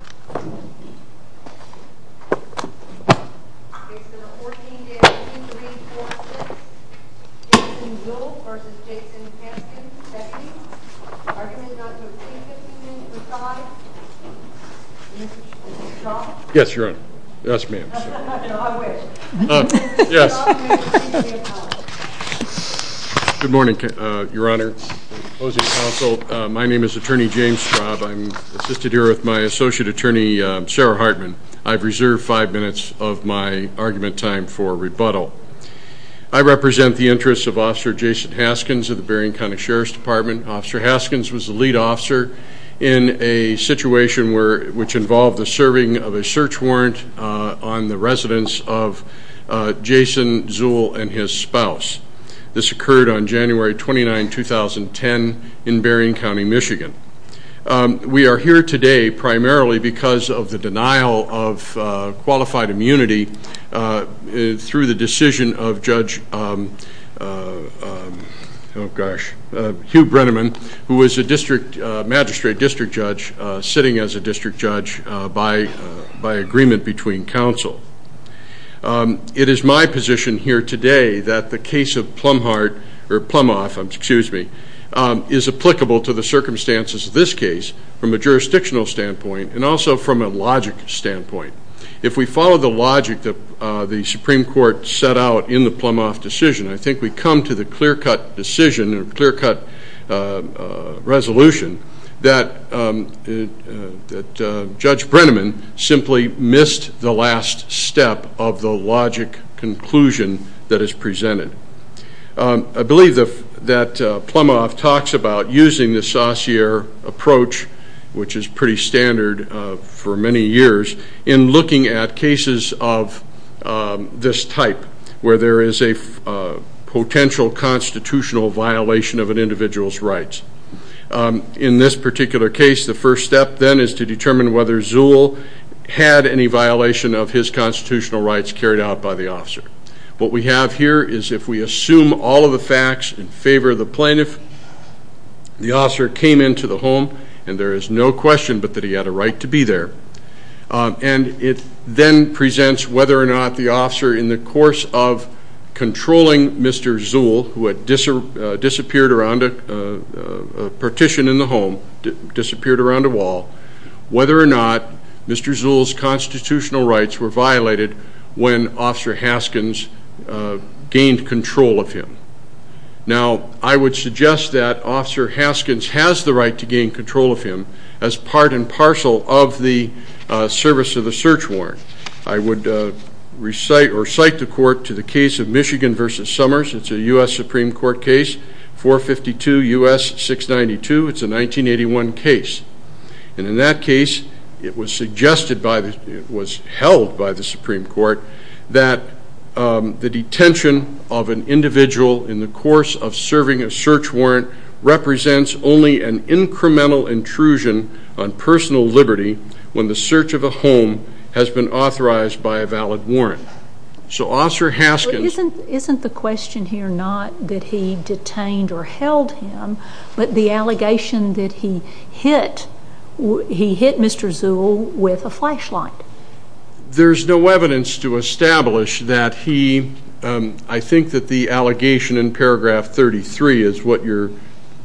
are committed not to obtain 15 minutes or five. Mr. Straub. Yes, Your Honor. Yes, ma'am. I wish. Yes. Good morning, Your Honor. Closing counsel. My name is Attorney James Straub. I'm assisted here with my associate attorney, Sarah Hartman. I've reserved five minutes of my argument time for rebuttal. I represent the interests of Officer Jason Haskins of the Berrien County Sheriff's Department. Officer Haskins was the lead officer in a situation which involved the serving of a search warrant on the residence of Jason Zuhl and his spouse. This occurred on January 29, 2010 in Berrien County, Michigan. We are here today primarily because of the denial of qualified immunity through the decision of Judge Hugh Brenneman, who was a magistrate district judge sitting as a district judge by agreement between counsel. It is my position here today that the case of Plumhart or Plumhoff, excuse me, is applicable to the circumstances of this case from a jurisdictional standpoint and also from a logic standpoint. If we follow the logic that the Supreme Court set out in the Plumhoff decision, I think we come to the clear-cut decision or clear-cut resolution that Judge Brenneman simply missed the last step of the logic conclusion that is presented. I believe that Plumhoff talks about using the Saussure approach, which is pretty standard for many years, in looking at cases of this type where there is a potential constitutional violation of an individual's rights. In this particular case, the first step then is to determine whether Zuhl had any violation of his constitutional rights carried out by the officer. What we have here is if we assume all of the facts in favor of the plaintiff, the officer came into the home, and there is no question but that he had a right to be there. And it then presents whether or not the officer, in the course of controlling Mr. Zuhl, who had disappeared around a partition in the home, disappeared around a wall, whether or not Mr. Zuhl's constitutional rights were violated when Officer Haskins gained control of him. Now, I would suggest that Officer Haskins has the right to gain control of him as part and parcel of the service of the search warrant. I would recite or cite the court to the case of Michigan v. Summers. It's a U.S. Supreme Court case, 452 U.S. 692. It's a 1981 case. And in that case, it was suggested by the, it was held by the Supreme Court, that the detention of an individual in the course of serving a search warrant represents only an incremental intrusion on personal liberty when the search of a home has been authorized by a valid warrant. So Officer Haskins... Isn't the question here not that he detained or held him, but the allegation that he hit Mr. Zuhl with a flashlight? There's no evidence to establish that he, I think that the allegation in paragraph 33 is what your,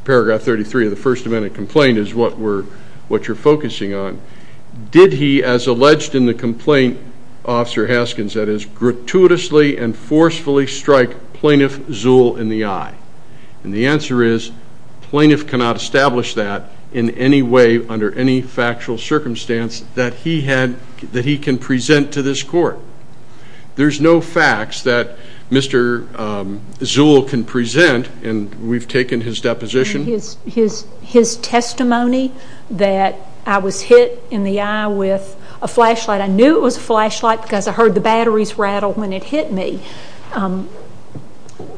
paragraph 33 of the first amendment complaint is what you're focusing on. Did he, as alleged in the complaint, Officer Haskins, that is, gratuitously and forcefully strike Plaintiff Zuhl in the eye? And the answer is plaintiff cannot establish that in any way under any factual circumstance that he had, that he can present to this court. There's no facts that Mr. Zuhl can present, and we've taken his deposition. His testimony that I was hit in the eye with a flashlight. I knew it was a flashlight because I heard the batteries rattle when it hit me.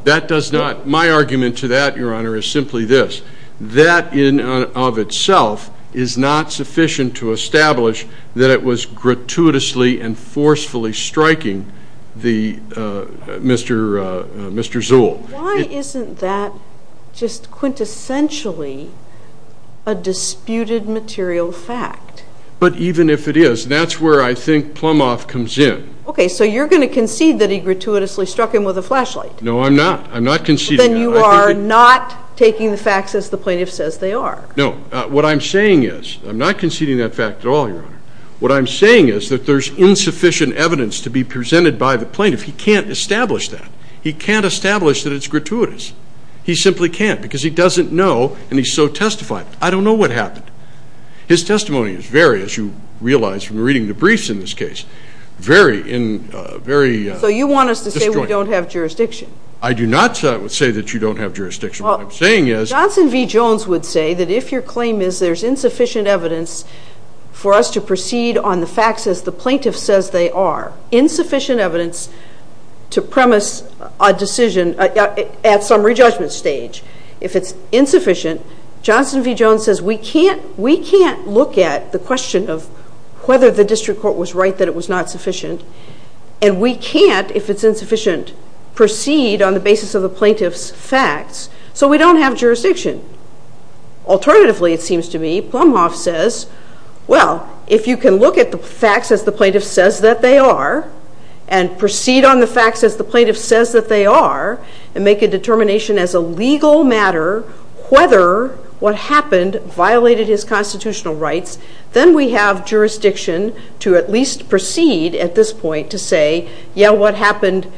That does not, my argument to that, your honor, is simply this. That in and of itself is not sufficient to establish that it was gratuitously and forcefully striking the, Mr. Zuhl. Why isn't that just quintessentially a disputed material fact? But even if it is, that's where I think Plumhoff comes in. Okay, so you're going to concede that he gratuitously struck him with a flashlight? No, I'm not. I'm not conceding that. Then you are not taking the facts as the plaintiff says they are. No, what I'm saying is, I'm not conceding that fact at all, your honor. What I'm saying is that there's insufficient evidence to be presented by the plaintiff. He can't establish that. He can't establish that it's gratuitous. He simply can't because he doesn't know and he's so testified. I don't know what happened. His testimony is very, as you realize from reading the briefs in this case, very, very disjointed. So you want us to say we don't have jurisdiction? I do not say that you don't have jurisdiction. What I'm saying is— Johnson v. Jones would say that if your claim is there's insufficient evidence for us to proceed on the facts as the plaintiff says they are, insufficient evidence to premise a decision at summary judgment stage. If it's insufficient, Johnson v. Jones says we can't look at the question of whether the district court was right that it was not sufficient. And we can't, if it's insufficient, proceed on the basis of the plaintiff's facts. So we don't have jurisdiction. Alternatively, it seems to me, Plumhoff says, Well, if you can look at the facts as the plaintiff says that they are and proceed on the facts as the plaintiff says that they are and make a determination as a legal matter whether what happened violated his constitutional rights, then we have jurisdiction to at least proceed at this point to say, yeah, what happened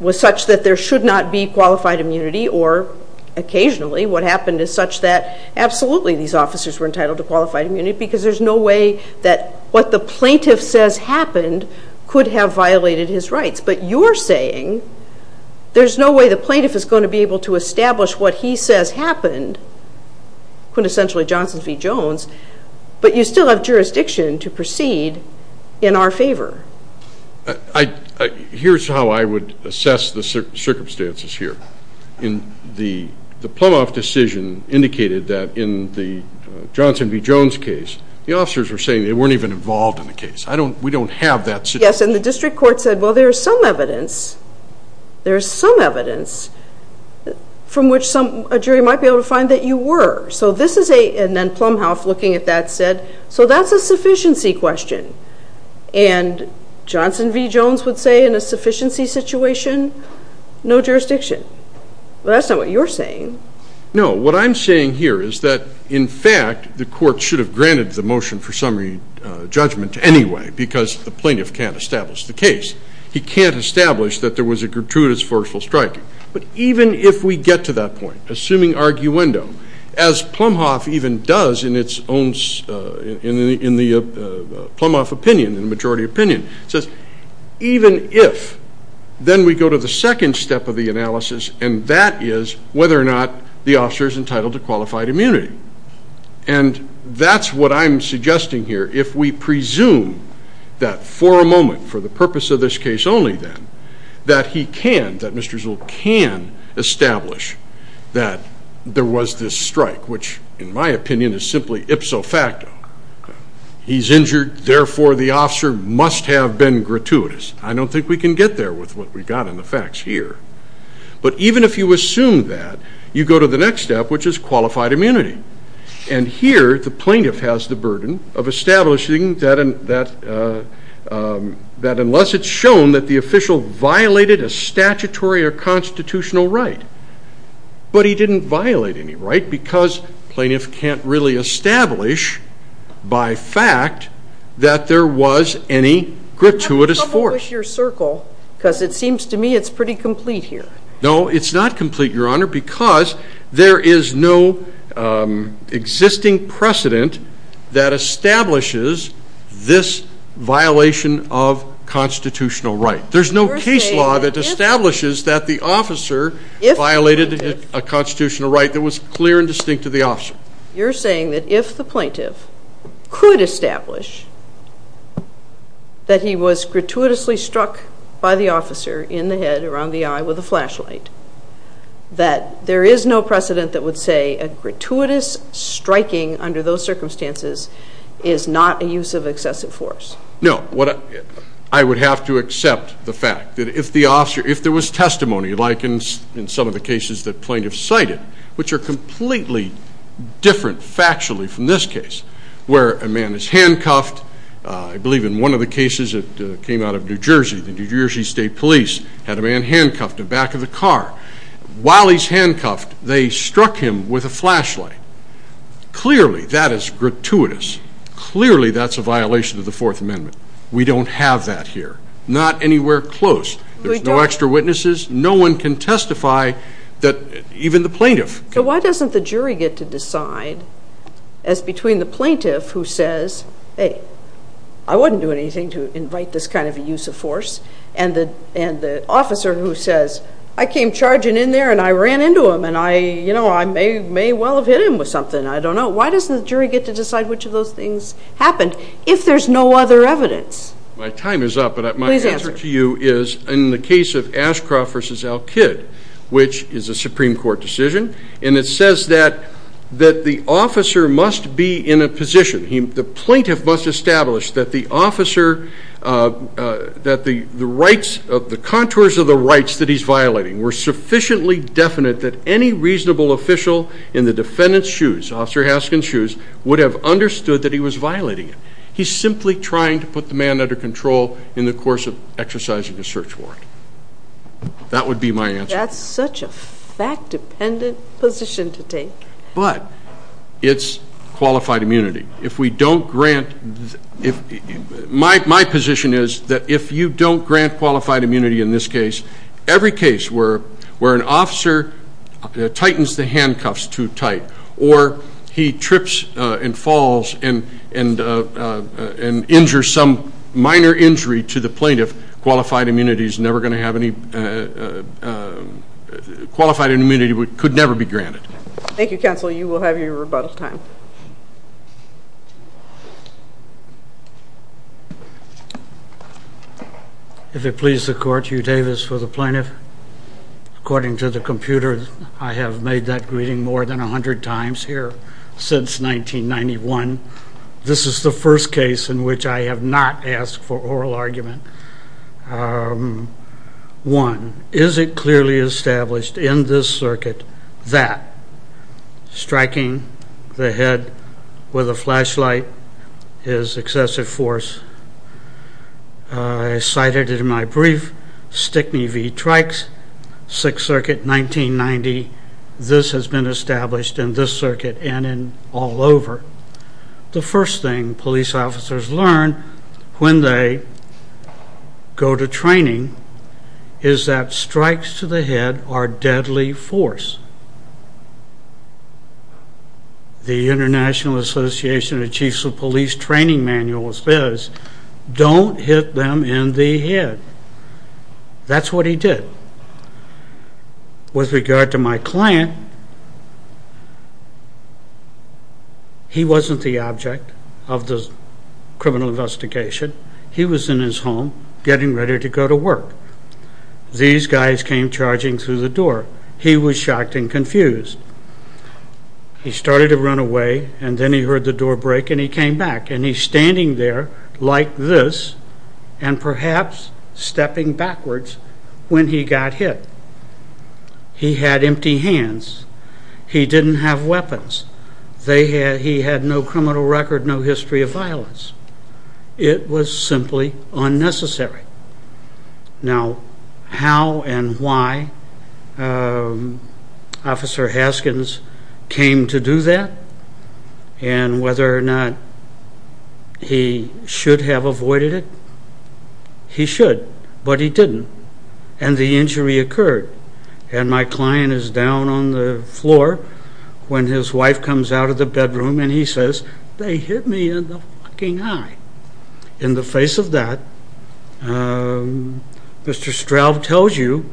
was such that there should not be qualified immunity or occasionally what happened is such that absolutely these officers were entitled to qualified immunity because there's no way that what the plaintiff says happened could have violated his rights. But you're saying there's no way the plaintiff is going to be able to establish what he says happened, quintessentially Johnson v. Jones, but you still have jurisdiction to proceed in our favor. Here's how I would assess the circumstances here. The Plumhoff decision indicated that in the Johnson v. Jones case, the officers were saying they weren't even involved in the case. We don't have that situation. Yes, and the district court said, Well, there's some evidence. There's some evidence from which a jury might be able to find that you were. And then Plumhoff, looking at that, said, So that's a sufficiency question. And Johnson v. Jones would say in a sufficiency situation, no jurisdiction. But that's not what you're saying. No, what I'm saying here is that, in fact, the court should have granted the motion for summary judgment anyway because the plaintiff can't establish the case. He can't establish that there was a gratuitous forceful strike. But even if we get to that point, assuming arguendo, as Plumhoff even does in the Plumhoff opinion, in the majority opinion, says even if, then we go to the second step of the analysis, and that is whether or not the officer is entitled to qualified immunity. And that's what I'm suggesting here. If we presume that for a moment, for the purpose of this case only then, that he can, that Mr. Zell can establish that there was this strike, which in my opinion is simply ipso facto. He's injured, therefore the officer must have been gratuitous. I don't think we can get there with what we've got in the facts here. But even if you assume that, you go to the next step, which is qualified immunity. And here, the plaintiff has the burden of establishing that unless it's shown that the official violated a statutory or constitutional right. But he didn't violate any right because plaintiff can't really establish, by fact, that there was any gratuitous force. You have trouble with your circle because it seems to me it's pretty complete here. No, it's not complete, Your Honor, because there is no existing precedent that establishes this violation of constitutional right. There's no case law that establishes that the officer violated a constitutional right that was clear and distinct to the officer. You're saying that if the plaintiff could establish that he was gratuitously struck by the officer in the head, around the eye, with a flashlight, that there is no precedent that would say a gratuitous striking under those circumstances is not a use of excessive force. No. I would have to accept the fact that if there was testimony, like in some of the cases that plaintiff cited, which are completely different factually from this case, where a man is handcuffed. I believe in one of the cases that came out of New Jersey, the New Jersey State Police had a man handcuffed to the back of the car. While he's handcuffed, they struck him with a flashlight. Clearly that is gratuitous. Clearly that's a violation of the Fourth Amendment. We don't have that here. Not anywhere close. There's no extra witnesses. No one can testify, even the plaintiff. Why doesn't the jury get to decide, as between the plaintiff who says, hey, I wouldn't do anything to invite this kind of a use of force, and the officer who says, I came charging in there and I ran into him and I may well have hit him with something, I don't know. Why doesn't the jury get to decide which of those things happened, if there's no other evidence? My time is up, but my answer to you is, in the case of Ashcroft v. Al-Kid, which is a Supreme Court decision, and it says that the officer must be in a position, the plaintiff must establish that the contours of the rights that he's violating were sufficiently definite that any reasonable official in the defendant's shoes, Officer Haskins' shoes, would have understood that he was violating it. He's simply trying to put the man under control in the course of exercising a search warrant. That would be my answer. That's such a fact-dependent position to take. But it's qualified immunity. My position is that if you don't grant qualified immunity in this case, every case where an officer tightens the handcuffs too tight or he trips and falls and injures some minor injury to the plaintiff, qualified immunity could never be granted. Thank you, counsel. You will have your rebuttal time. If it pleases the Court, Hugh Davis for the plaintiff. According to the computer, I have made that greeting more than 100 times here since 1991. This is the first case in which I have not asked for oral argument. One, is it clearly established in this circuit that striking the head with a flashlight is excessive force? I cited it in my brief, Stick Me, V. Trikes, Sixth Circuit, 1990. This has been established in this circuit and in all over. The first thing police officers learn when they go to training is that strikes to the head are deadly force. The International Association of Chiefs of Police Training Manual says, don't hit them in the head. That's what he did. With regard to my client, he wasn't the object of the criminal investigation. He was in his home getting ready to go to work. These guys came charging through the door. He was shocked and confused. He started to run away and then he heard the door break and he came back. He's standing there like this and perhaps stepping backwards when he got hit. He had empty hands. He didn't have weapons. He had no criminal record, no history of violence. It was simply unnecessary. Now, how and why Officer Haskins came to do that and whether or not he should have avoided it? He should, but he didn't, and the injury occurred. My client is down on the floor when his wife comes out of the bedroom and he says, they hit me in the fucking eye. In the face of that, Mr. Straub tells you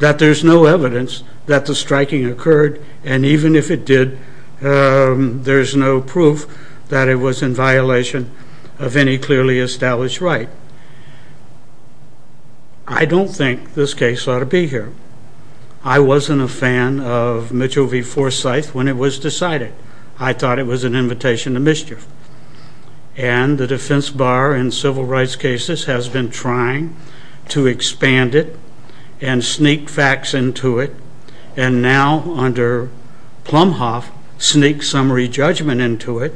that there's no evidence that the striking occurred, and even if it did, there's no proof that it was in violation of any clearly established right. I don't think this case ought to be here. I wasn't a fan of Mitchell v. Forsythe when it was decided. I thought it was an invitation to mischief. And the defense bar in civil rights cases has been trying to expand it and sneak facts into it, and now under Plumhoff sneak summary judgment into it,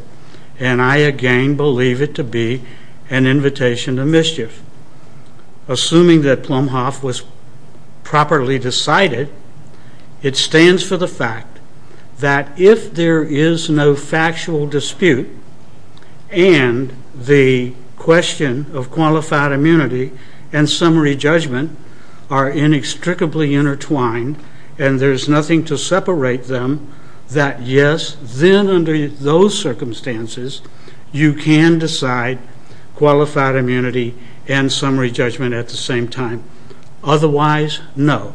and I again believe it to be an invitation to mischief. Assuming that Plumhoff was properly decided, it stands for the fact that if there is no factual dispute and the question of qualified immunity and summary judgment are inextricably intertwined and there's nothing to separate them, that yes, then under those circumstances, you can decide qualified immunity and summary judgment at the same time. Otherwise, no,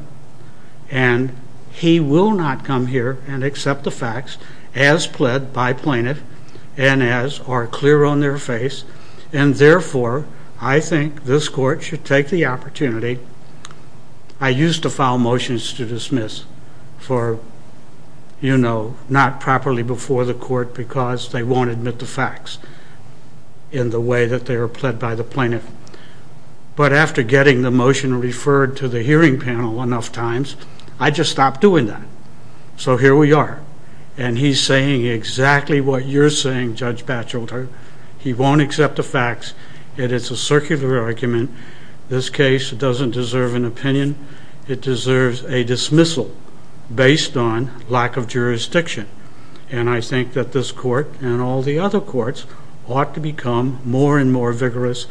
and he will not come here and accept the facts as pled by plaintiff and as are clear on their face, and therefore, I think this court should take the opportunity. I used to file motions to dismiss for, you know, not properly before the court because they won't admit the facts in the way that they were pled by the plaintiff. But after getting the motion referred to the hearing panel enough times, I just stopped doing that. So here we are, and he's saying exactly what you're saying, Judge Batchelder. He won't accept the facts, and it's a circular argument. This case doesn't deserve an opinion. It deserves a dismissal based on lack of jurisdiction, and I think that this court and all the other courts ought to become more and more vigorous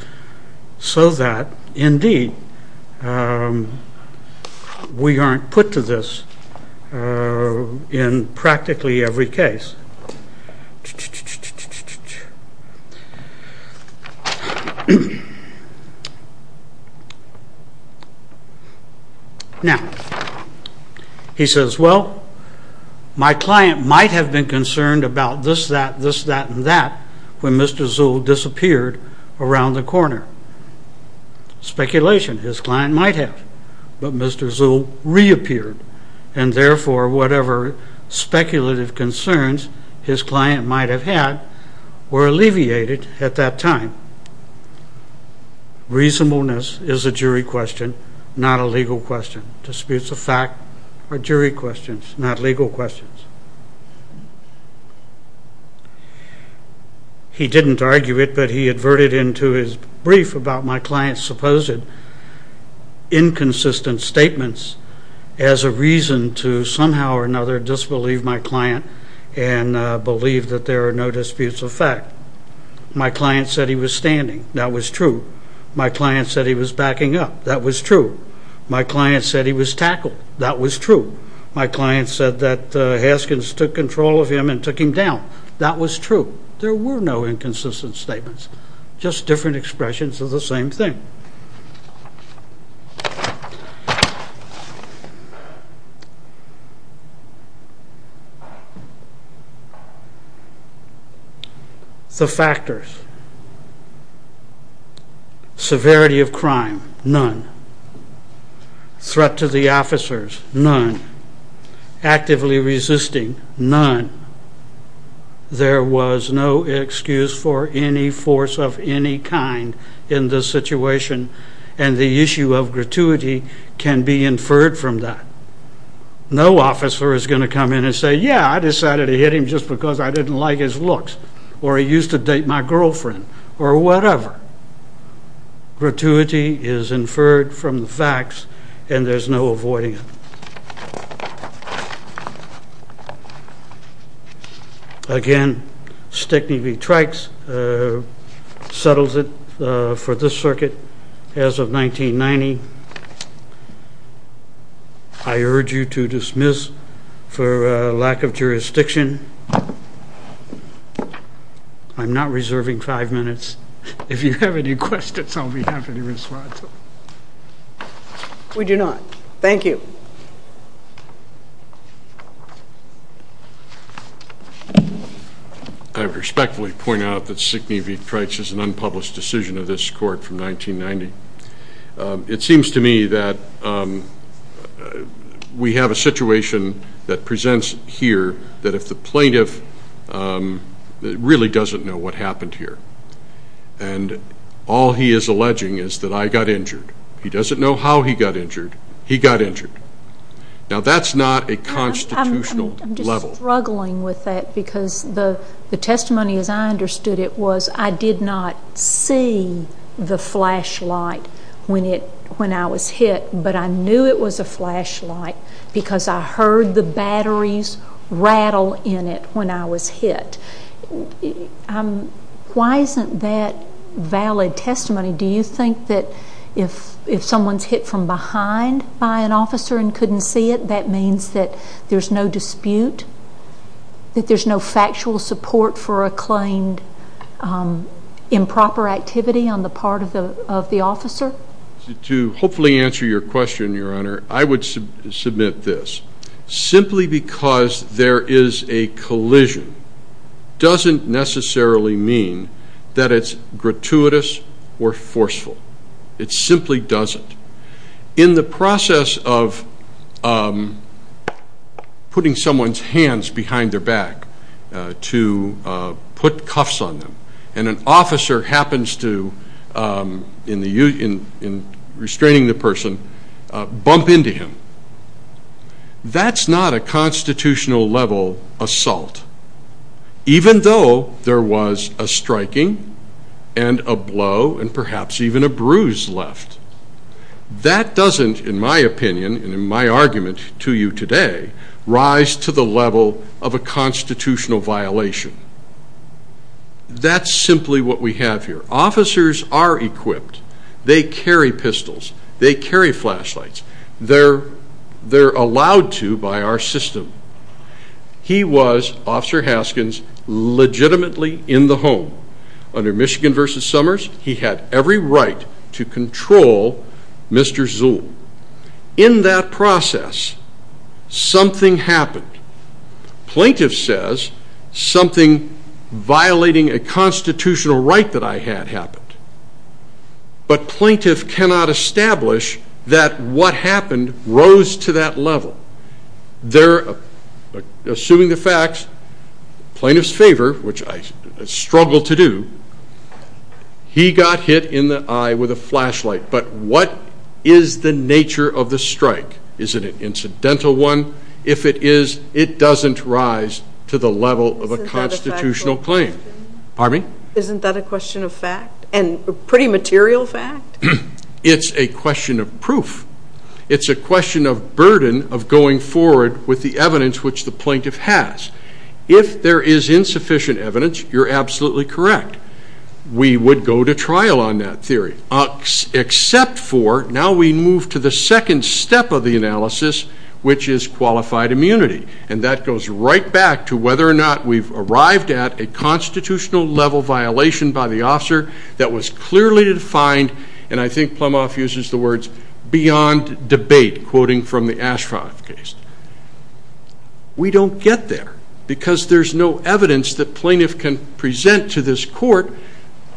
so that, indeed, we aren't put to this in practically every case. Now, he says, well, my client might have been concerned about this, that, this, that, and that when Mr. Zuhl disappeared around the corner. Speculation, his client might have, but Mr. Zuhl reappeared, and therefore whatever speculative concerns his client might have had were alleviated at that time. Reasonableness is a jury question, not a legal question. Disputes of fact are jury questions, not legal questions. He didn't argue it, but he adverted into his brief about my client's supposed inconsistent statements as a reason to somehow or another disbelieve my client and believe that there are no disputes of fact. My client said he was standing. That was true. My client said he was backing up. That was true. My client said he was tackled. That was true. My client said that Haskins took control of him and took him down. That was true. There were no inconsistent statements, just different expressions of the same thing. The factors. Severity of crime, none. Threat to the officers, none. Actively resisting, none. There was no excuse for any force of any kind in this situation, and the issue of gratuity can be inferred from that. No officer is going to come in and say, yeah, I decided to hit him just because I didn't like his looks, or he used to date my girlfriend, or whatever. Gratuity is inferred from the facts, and there's no avoiding it. Again, Stickney v. Trikes settles it for this circuit as of 1990. I urge you to dismiss for lack of jurisdiction. I'm not reserving five minutes. If you have any questions, I'll be happy to respond. We do not. Thank you. I respectfully point out that Stickney v. Trikes is an unpublished decision of this court from 1990. It seems to me that we have a situation that presents here that if the plaintiff really doesn't know what happened here, and all he is alleging is that I got injured. He doesn't know how he got injured. He got injured. Now, that's not a constitutional level. I'm just struggling with that because the testimony as I understood it was I did not see the flashlight when I was hit, but I knew it was a flashlight because I heard the batteries rattle in it when I was hit. Why isn't that valid testimony? Do you think that if someone's hit from behind by an officer and couldn't see it, that means that there's no dispute, that there's no factual support for a claimed improper activity on the part of the officer? To hopefully answer your question, Your Honor, I would submit this. Simply because there is a collision doesn't necessarily mean that it's gratuitous or forceful. It simply doesn't. In the process of putting someone's hands behind their back to put cuffs on them, and an officer happens to, in restraining the person, bump into him, that's not a constitutional level assault. Even though there was a striking and a blow and perhaps even a bruise left, that doesn't, in my opinion and in my argument to you today, rise to the level of a constitutional violation. That's simply what we have here. Officers are equipped. They carry pistols. They carry flashlights. They're allowed to by our system. He was, Officer Haskins, legitimately in the home. Under Michigan v. Summers, he had every right to control Mr. Zuhl. In that process, something happened. Plaintiff says, something violating a constitutional right that I had happened. But plaintiff cannot establish that what happened rose to that level. Assuming the facts, plaintiff's favor, which I struggle to do, he got hit in the eye with a flashlight. But what is the nature of the strike? Is it an incidental one? If it is, it doesn't rise to the level of a constitutional claim. Pardon me? Isn't that a question of fact and pretty material fact? It's a question of proof. It's a question of burden of going forward with the evidence which the plaintiff has. If there is insufficient evidence, you're absolutely correct. We would go to trial on that theory. Except for, now we move to the second step of the analysis, which is qualified immunity. And that goes right back to whether or not we've arrived at a constitutional level violation by the officer that was clearly defined, and I think Plumhoff uses the words, beyond debate, quoting from the Ashcroft case. We don't get there because there's no evidence that plaintiff can present to this court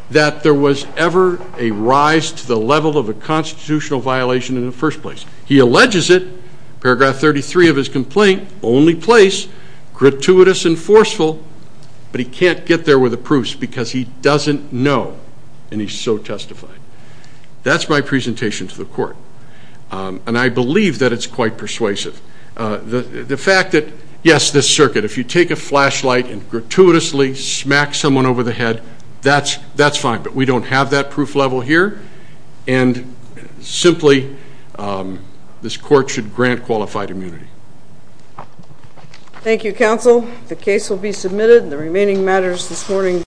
that there was ever a rise to the level of a constitutional violation in the first place. He alleges it, paragraph 33 of his complaint, only place, gratuitous and forceful, but he can't get there with the proofs because he doesn't know, and he's so testified. That's my presentation to the court, and I believe that it's quite persuasive. The fact that, yes, this circuit, if you take a flashlight and gratuitously smack someone over the head, that's fine, but we don't have that proof level here, and simply this court should grant qualified immunity. Thank you, counsel. The case will be submitted, and the remaining matters this morning.